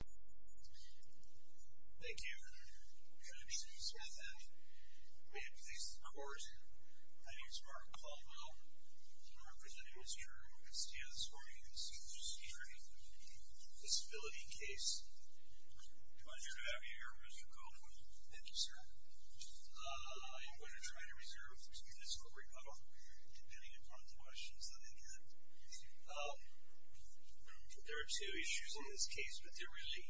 Thank you, Judge Smith. May it please the Court, my name is Mark Caldwell. I'm representing Mr. Castillo this morning in his District Disability case. Pleasure to have you here, Mr. Coleman. Thank you, sir. I'm going to try to reserve the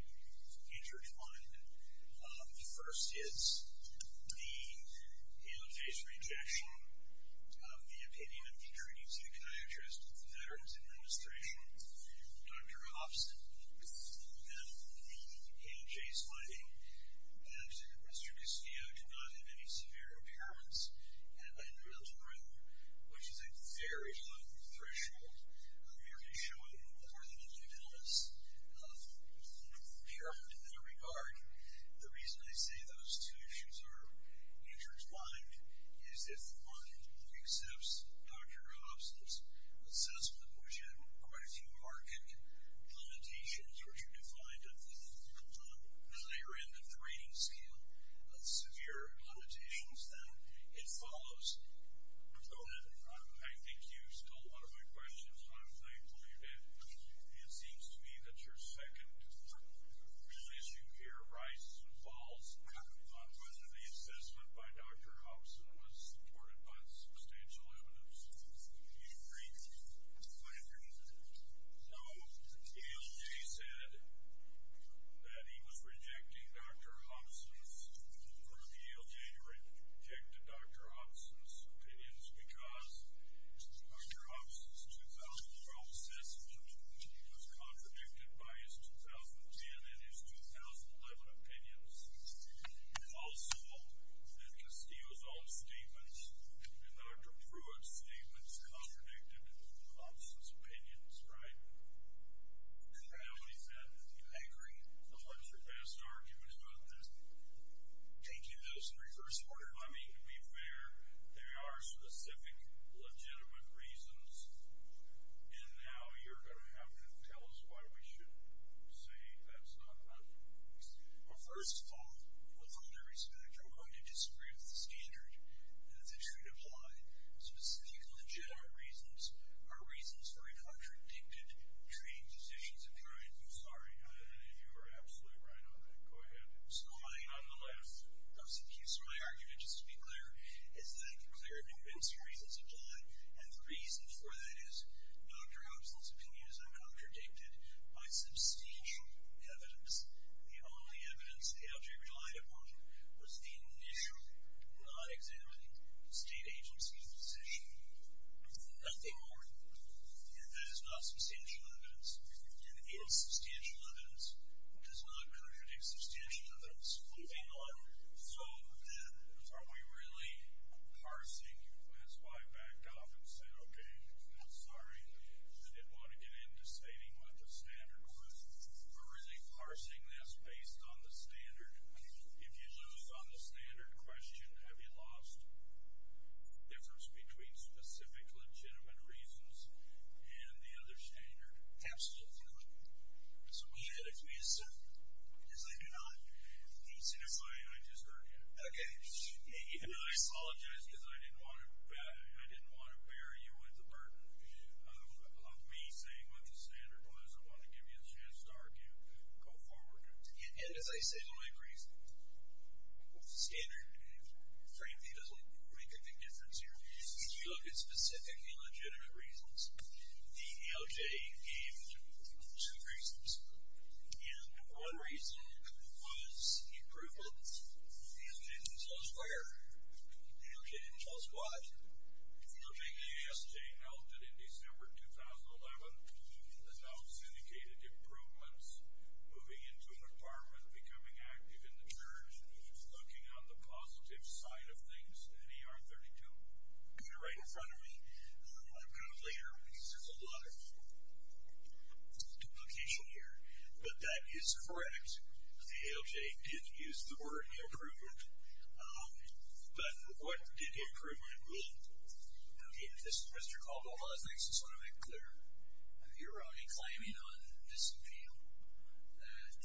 intertwined. The first is the in-face rejection of the opinion of the jury psychiatrist at the Veterans Administration, Dr. Hobson, and the ANJ's finding that Mr. Castillo did not have any severe impairments in the mental realm, which is a very broad threshold. I'm here to show a more than unanimous impairment in that regard. The reason I say those two issues are intertwined is if one accepts Dr. Hobson's assessment, which had quite a few archaic limitations, which are defined at the So, I think you stole one of my questions, and I'm thankful you did. It seems to me that your second issue here rises and falls on whether the assessment by Dr. Hobson was supported by substantial evidence. So, the ALJ said that he was rejecting Dr. Hobson's opinions because Dr. Hobson's 2012 assessment was contradicted by his 2010 and his 2011 opinions. Also, that Castillo's own statements and Dr. Pruitt's statements contradicted Hobson's opinions, right? The ALJ said, anchoring the lesser best argument about this, taking this in reverse order. I mean, to be fair, there are specific legitimate reasons, and now you're going to have to tell us why we should say that's not an option. Well, first of all, with all due respect, I'm going to disagree with the standard that this should apply. Specific legitimate reasons are reasons for a contradicted training position. I'm sorry. You are absolutely right on that. Go ahead. So, I, on the left, those of you, so my argument, just to be clear, is that I can clearly convince you reasons apply, and the reason for that is Dr. Hobson's opinions are contradicted by substantial evidence. The only evidence the ALJ relied upon was the new, non-examining state agency's decision. Nothing more. And that is not substantial evidence, and its substantial evidence does not contradict substantial evidence. Moving on. So, are we really parsing, that's why I backed off and said, okay, sorry, I didn't want to get into stating what the standard was. We're really parsing this based on the standard. If you lose on the standard question, have you lost the difference between specific legitimate reasons and the other standard? Absolutely. So, go ahead. I apologize because I didn't want to bear you with the burden of me saying what the standard was. I wanted to give you a chance to argue. Go forward. And, as I say, the only reason, standard, frankly, doesn't make a big difference here. If you look at specifically legitimate reasons, the ALJ gave two reasons. And one reason was improvements. The ALJ didn't tell us where. The ALJ didn't tell us why. The ASJ held it in December 2011, announced syndicated improvements, moving into an apartment, becoming active in the church, looking on the positive side of things in ER 32. You're right in front of me. I'm kind of later because there's a lot of duplication here. But that is correct. The ALJ did use the word improvement. But what did improvement mean? Mr. Caldwell, I just want to make clear. You're only claiming on this appeal that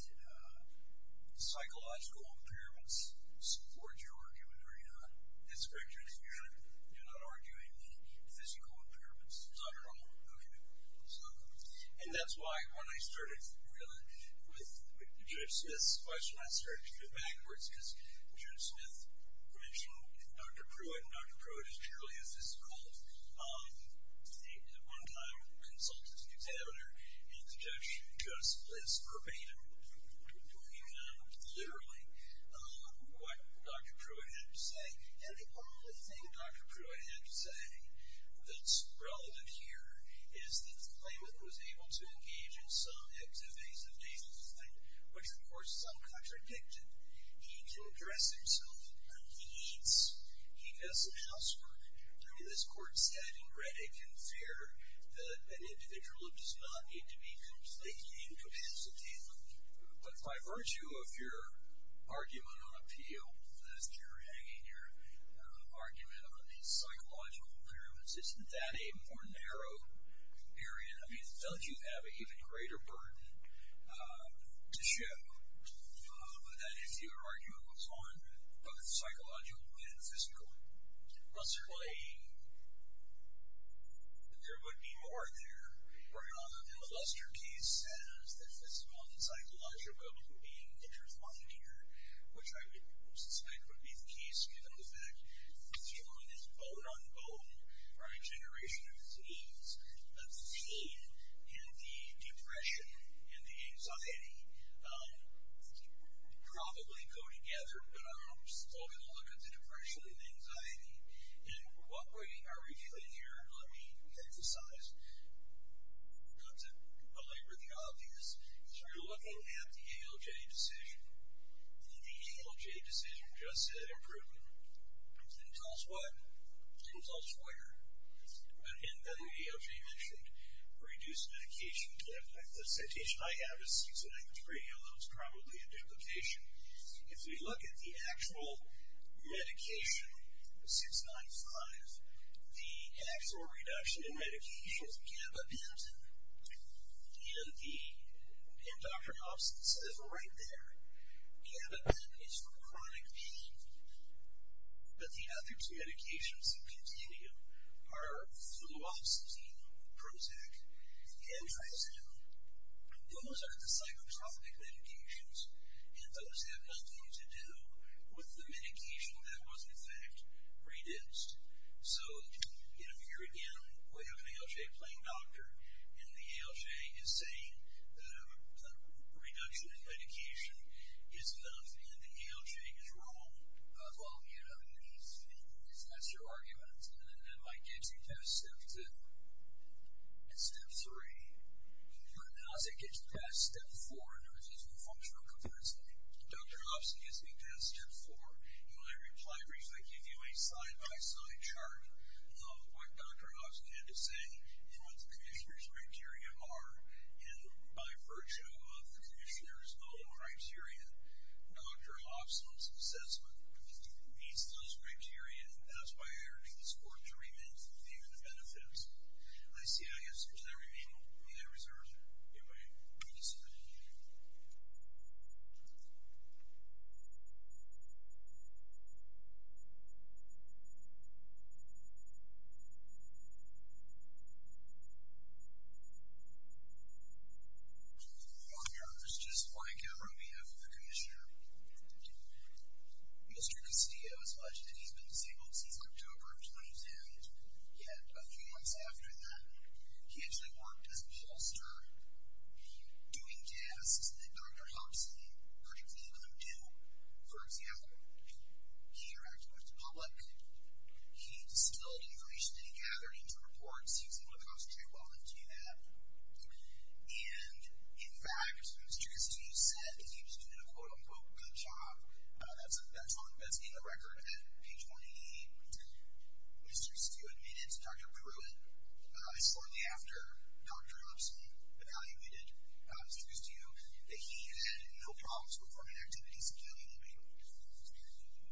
psychological impairments support your argument, are you not? That's correct, Judge. You're not arguing physical impairments? Not at all. Okay. And that's why when I started with Judge Smith's question, I started to do it backwards because Judge Smith mentioned Dr. Pruitt, and Dr. Pruitt is truly a physical. One time, I consulted an examiner, and the judge just blitzed verbatim, literally, what Dr. Pruitt had to say. And the only thing Dr. Pruitt had to say that's relevant here is that the claimant was able to engage in some activities of daily life, which of course is uncontradicted. He can dress himself, he eats, he does some housework. In this court setting, Redick can fear that an individual does not need to be completely incapacitated. But by virtue of your argument on appeal, that you're hanging your argument on these psychological impairments, isn't that a more narrow area? I mean, does you have an even greater burden to share with that if your argument was on both psychological and physical? Well, certainly, there would be more there. In the Luster case, it says that this one psychological being that you're finding here, which I would suspect would be the case given the fact that it's shown as bone-on-bone for a generation of thieves, that the pain and the depression and the anxiety probably go together, but I'm still going to look at the depression and the anxiety. And what we are revealing here, and let me emphasize, not to belabor the obvious, is we're looking at the ALJ decision. And the ALJ decision just said improvement. And it tells what? It tells where. And then the ALJ mentioned reduced medication. The citation I have is 693, although it's probably a duplication. If we look at the actual medication, 695, the actual reduction in medication is gabapentin. And the endocrinopsis is right there. Gabapentin is for chronic pain, but the other two medications in continuum are fluoxetine, Prozac, and Triazidone. Those are the psychotropic medications, and those have nothing to do with the medication that was, in fact, reduced. So, here again, we have an ALJ playing doctor, and the ALJ is saying that a reduction in medication is enough, and the ALJ is wrong. Well, you know, that's your argument. And that might get you past step two. Step three. How does it get you past step four in terms of functional competency? Dr. Hobson gets me past step four. In my reply brief, I give you a side-by-side chart of what Dr. Hobson had to say and what the commissioner's criteria are. And by virtue of the commissioner's own criteria, Dr. Hobson's assessment meets those criteria. And that's why I urge the court to remit the benefits. And I see I have some time remaining. I reserve it. Goodbye. Thank you so much. Your Honor, this is just my camera on behalf of the commissioner. Mr. Castillo has alleged that he's been disabled since October of 2010. Yet, a few months after that, he actually worked as a pollster doing tasks that Dr. Hobson particularly couldn't do. For example, he interacted with the public. He spilled information that he gathered into reports. He was able to concentrate well enough to do that. And, in fact, Mr. Castillo said that he was doing a quote-unquote good job. That's in the record at page 188. Mr. Castillo admitted to Dr. Pruitt shortly after Dr. Hobson evaluated Mr. Castillo, that he had no problems performing activities skillingly.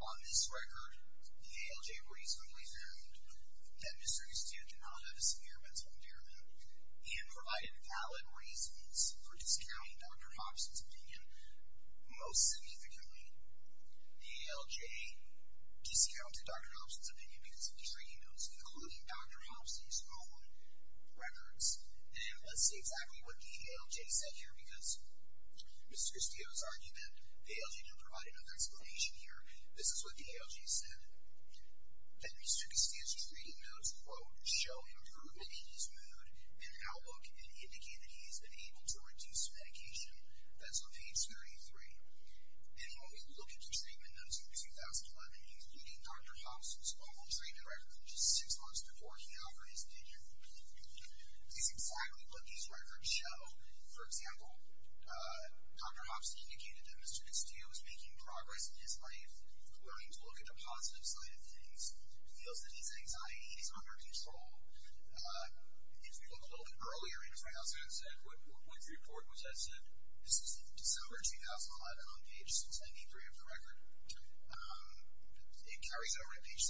On this record, the ALJ reasonably found that Mr. Castillo did not have a severe mental impairment and provided valid reasons for discounting Dr. Hobson's opinion. Most significantly, the ALJ discounted Dr. Hobson's opinion because of his reading notes, including Dr. Hobson's own records. And let's see exactly what the ALJ said here, Mr. Castillo's argument, the ALJ didn't provide enough explanation here. This is what the ALJ said. That Mr. Castillo's reading notes, quote, show improvement in his mood and outlook and indicate that he has been able to reduce medication. That's on page 33. And when we look at the treatment notes from 2011, including Dr. Hobson's own treatment records just six months before he offered his opinion, this is exactly what these records show. For example, Dr. Hobson indicated that Mr. Castillo was making progress in his life, learning to look at the positive side of things. He feels that his anxiety is under control. If we look a little bit earlier in, for instance, what report was that sent? This is December 2011, on page 693 of the record. It carries over to page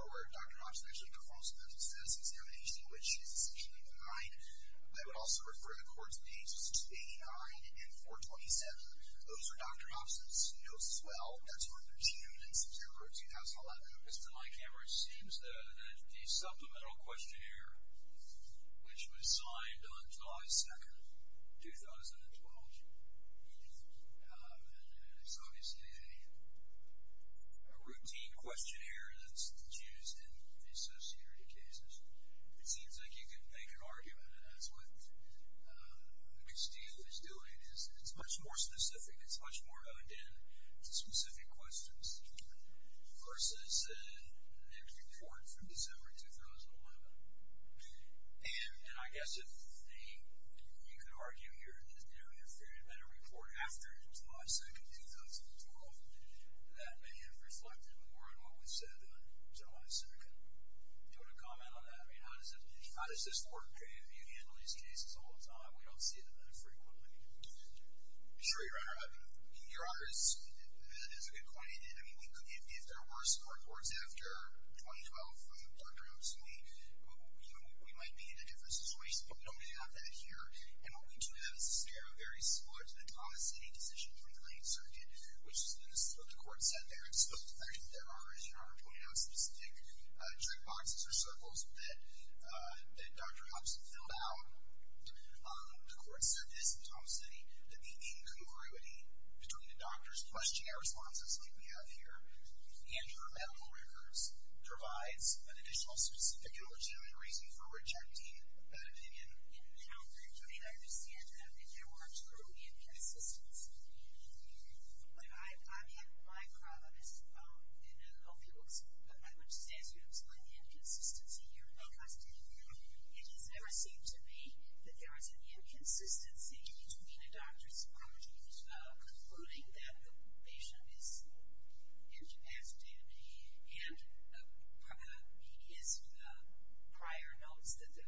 634, where Dr. Hobson actually performs a medical status examination, which is section 809. I would also refer you to courts pages 289 and 427. Those are Dr. Hobson's notes as well. That's from June and September of 2011. As to my camera, it seems that the supplemental questionnaire, which was signed on July 2, 2012, is obviously a routine questionnaire that's used in the Social Security cases. It seems like you can make an argument. That's what Castillo is doing. It's much more specific. It's much more honed in to specific questions, versus the report from December 2011. I guess you could argue here that if there had been a report after July 2, 2012, that may have reflected more on what was said on July 2. Do you want to comment on that? How does this work? You handle these cases all the time. We don't see it that frequently. Sure, Your Honor. Your Honor, that is a good point. If there were support reports after 2012 from Dr. Hobson, we might be in a different situation. But we don't have that here. What we do have is a scenario very similar to the Thomas City decision from the late surgeon, which is what the court said there. There are, as Your Honor pointed out, specific checkboxes or circles that Dr. Hobson filled out. The court said this in Thomas City, that the incongruity between the doctors' questionnaire responses, like we have here, and your medical records, provides an additional specific and legitimate reason for rejecting that opinion. And, Your Honor, to me, I understand that opinion works through inconsistency. But my problem is, and I don't know if you would, but I would just ask you to explain the inconsistency here, because it has never seemed to me that there is an inconsistency between the doctors concluding that the patient is incapacitated and his prior notes that the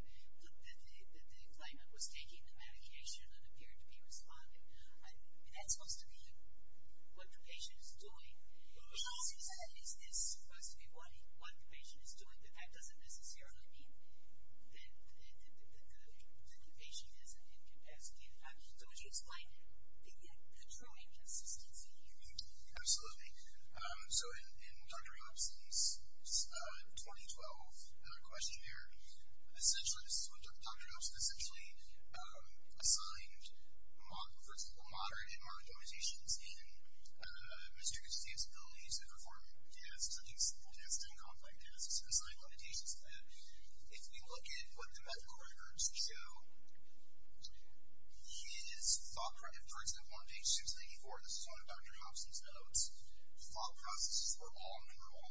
claimant was taking the medication and appeared to be responding. I mean, that's supposed to be what the patient is doing. It's supposed to be what the patient is doing, but that doesn't necessarily mean that the patient is incapacitated. So would you explain the true inconsistency here? Absolutely. So in Dr. Hobson's 2012 questionnaire, essentially this is what Dr. Hobson essentially assigned, for example, moderate and moderate denotations in Mr. Jacobson's abilities to perform tasks, such as simple tasks and complex tasks, and assigned limitations to that. If we look at what the medical records show, his thought process, for example, on page 694, this is one of Dr. Hobson's notes, thought processes were all normal,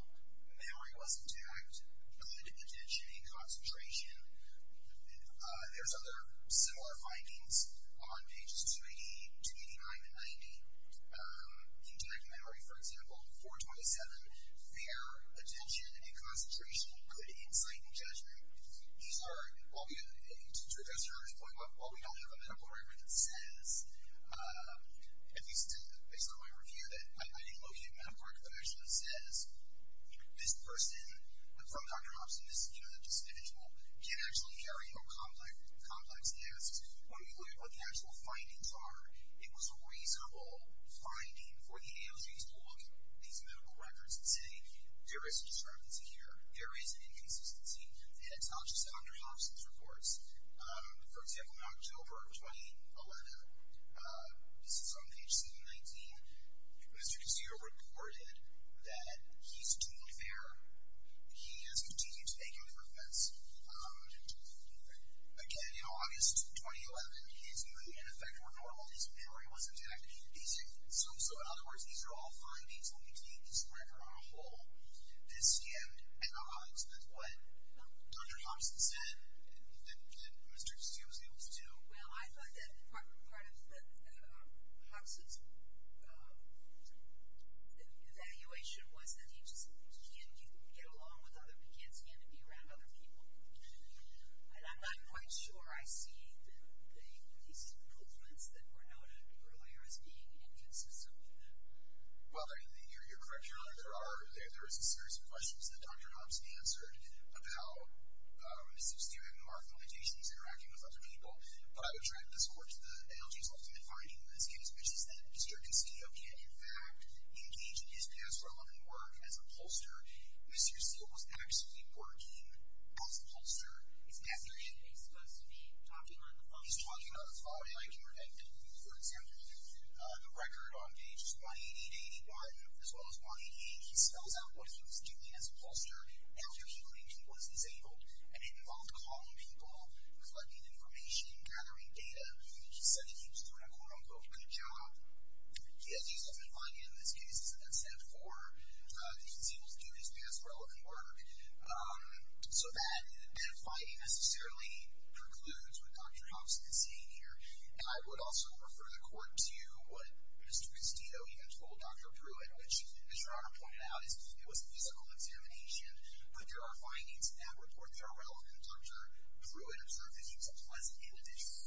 memory was intact, good attention and concentration. There's other similar findings on pages 288, 289, and 90. Intact memory, for example, 427, fair attention and concentration, good insight and judgment. These are, to address your earlier point, while we don't have a medical record that says, at least based on my review, that I didn't locate a medical record that actually says this person from Dr. Hobson, this individual, can actually carry out complex tasks. When we look at what the actual findings are, it was a reasonable finding for the agency to look at these medical records and say, there is a discrepancy here, there is an inconsistency, and it's not just Dr. Hobson's reports. For example, in October of 2011, this is on page 719, Mr. Cascio reported that he's doing fair, he has continued to make improvements. Again, you know, August 2011, his mood and effect were normal, his memory was intact. So, in other words, these are all findings when we take this record on a whole that scanned Dr. Hobson with what Dr. Hobson said that Mr. Cascio was able to do. Well, I thought that part of Hobson's evaluation was that he just can't get along with other kids, he had to be around other people. And I'm not quite sure I see these improvements that were noted earlier as being inconsistent with that. Well, you're correct, Your Honor. There is a series of questions that Dr. Hobson answered about Mr. Cascio having more affiliations, interacting with other people. But I would try to discord to the analogy as often defined in this case, which is that Mr. Cascio can, in fact, engage in his past relevant work as a pollster. Mr. Cascio was actually working as a pollster. Is Mr. Cascio supposed to be talking on the phone? For example, the record on pages 188, 181, as well as 188, he spells out what he was doing as a pollster after he was disabled, and it involved calling people, collecting information, gathering data. He said that he was doing a quote-unquote good job. He, as he's often defined in this case, is an except for that he was able to do his past relevant work so that that fight necessarily precludes what Dr. Hobson is saying here. And I would also refer the court to what Mr. Castillo even told Dr. Pruitt, which, as Your Honor pointed out, it was a physical examination. But there are findings and reports that are relevant. Dr. Pruitt observed that he was a pleasant individual,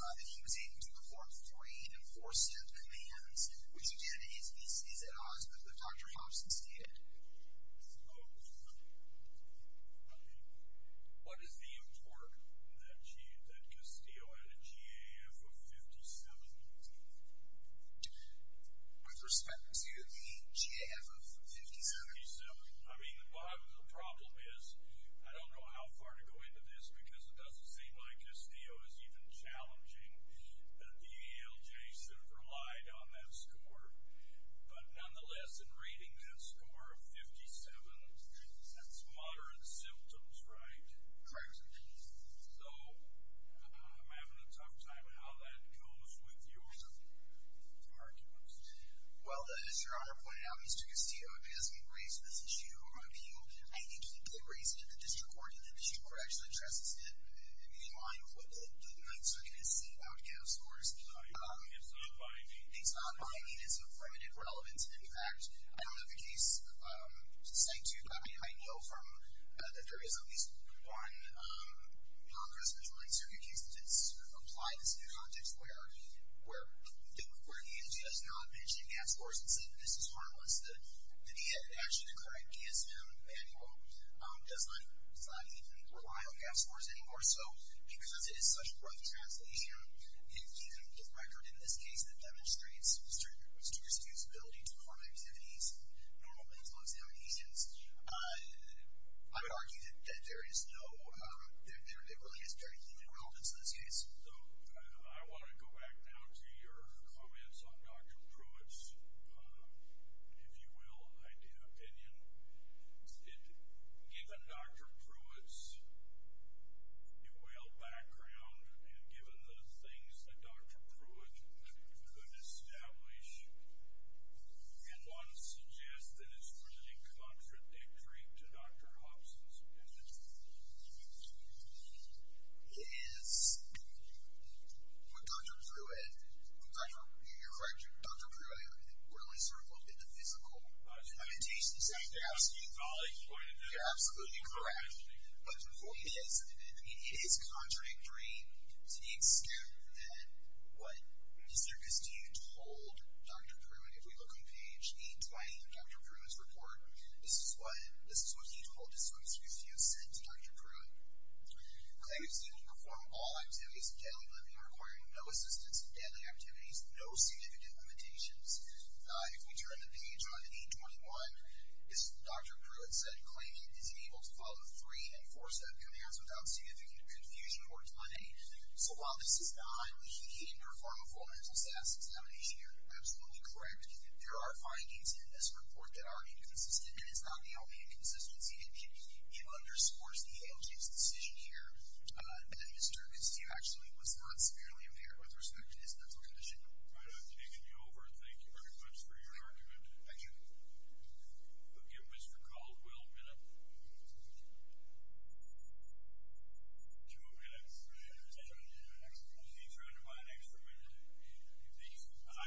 that he was able to perform three enforcement commands, which, again, is at odds with what Dr. Hobson stated. Oh. What is the importance that Castillo had a GAF of 57? With respect to the GAF of 57? 57. I mean, the problem is I don't know how far to go into this because it doesn't seem like Castillo is even challenging that the EALJ should have relied on that score. But nonetheless, in reading that score of 57, that's moderate symptoms, right? Correct. So I'm having a tough time on how that goes with your arguments. Well, as Your Honor pointed out, Mr. Castillo, because we raised this issue with you, I think he did raise it at the district court, and the district court actually addresses it in line with what the Ninth Circuit has said about GAF scores. It's not binding. It's not binding. It's of limited relevance. In fact, I don't have the case to cite you, but I know that there is at least one non-custodial Ninth Circuit case that's applied this new context where the EALJ has not mentioned GAF scores and said that this is harmless. The EALJ actually declared ESM manual does not even rely on GAF scores anymore. So because it is such a rough translation, and given the record in this case that demonstrates students' usability to perform activities normally as Luxembourgians, I would argue that there really is very limited relevance in this case. So I want to go back now to your comments on Dr. Pruitt's, if you will, opinion. Given Dr. Pruitt's, if you will, background and given the things that Dr. Pruitt could establish, can one suggest that it's pretty contradictory to Dr. Hobson's opinion? It is. With Dr. Pruitt, you're correct. Dr. Pruitt really sort of looked at the physical limitations and you're absolutely correct. But it is contradictory to the extent that what Mr. Gustew told Dr. Pruitt. If we look on page 820 in Dr. Pruitt's report, this is what he told, this is what Mr. Gustew said to Dr. Pruitt. Claimants able to perform all activities of daily living requiring no assistance in daily activities, no significant limitations. If we turn to page 821, Dr. Pruitt said, Claimant is able to follow three and four set of commands without significant confusion or delay. So while this is not a he can perform a full mental SAS examination, you're absolutely correct. There are findings in this report that are inconsistent and it's not the only inconsistency. It underscores the ALJ's decision here that Mr. Gustew actually was not severely impaired with respect to his mental condition. All right, I've taken you over. Thank you very much for your argument. Thank you. We'll give Mr. Caldwell a minute. Two more minutes. He's running by an extra minute.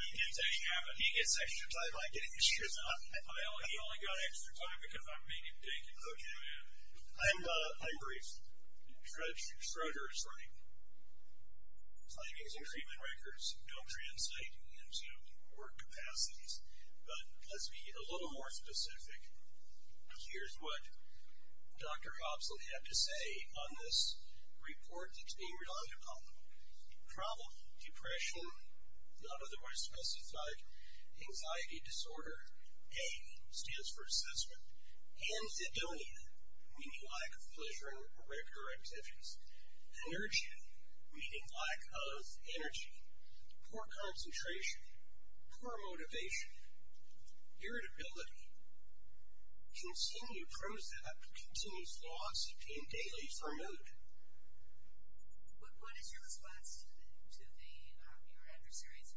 I didn't take half of it. He gets extra time. I get extra time. He only got extra time because I made him take it. Okay. I'm briefed. Schroeder is running. Claimant's achievement records don't translate into work capacities, but let's be a little more specific. Here's what Dr. Hobson had to say on this report that's being relied upon. Problem. Depression. Not otherwise specified. Anxiety disorder. A stands for assessment. Anthedonia, meaning lack of pleasure in regular activities. Energy, meaning lack of energy. Poor concentration. Poor motivation. Irritability. Continue pros at, continues flaws obtained daily for note. But what is your response to the Arranger Series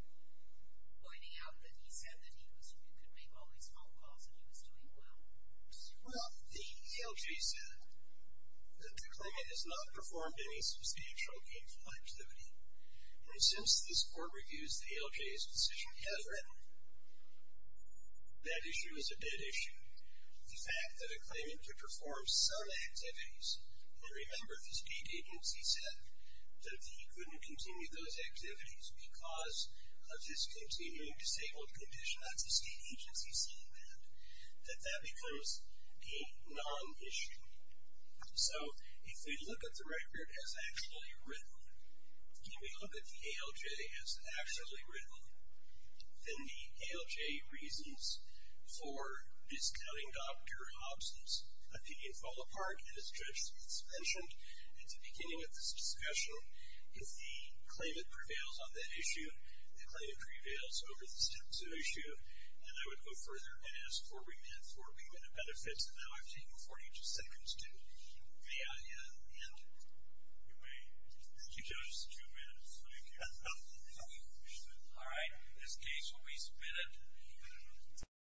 pointing out that he said that he could make all these phone calls and he was doing well? Well, the ALJ said that the claimant has not performed any substantial games of activity. And since this court reviews the ALJ's decision, he has written that issue is a dead issue. The fact that a claimant could perform some activities, and remember the state agency said that he couldn't continue those activities because of his continuing disabled condition, that's a state agency statement, that that becomes a non-issue. So if we look at the record as actually written, if we look at the ALJ as actually written, then the ALJ reasons for discounting Dr. Hobson's opinion fall apart, and as Judge Smith's mentioned at the beginning of this discussion, if the claimant prevails on that issue, the claimant prevails over this type of issue, then I would go further and ask for remand for remand of benefits. So now I've taken 42 seconds to get the ALJ to enter. All right. In this case, when we spin it.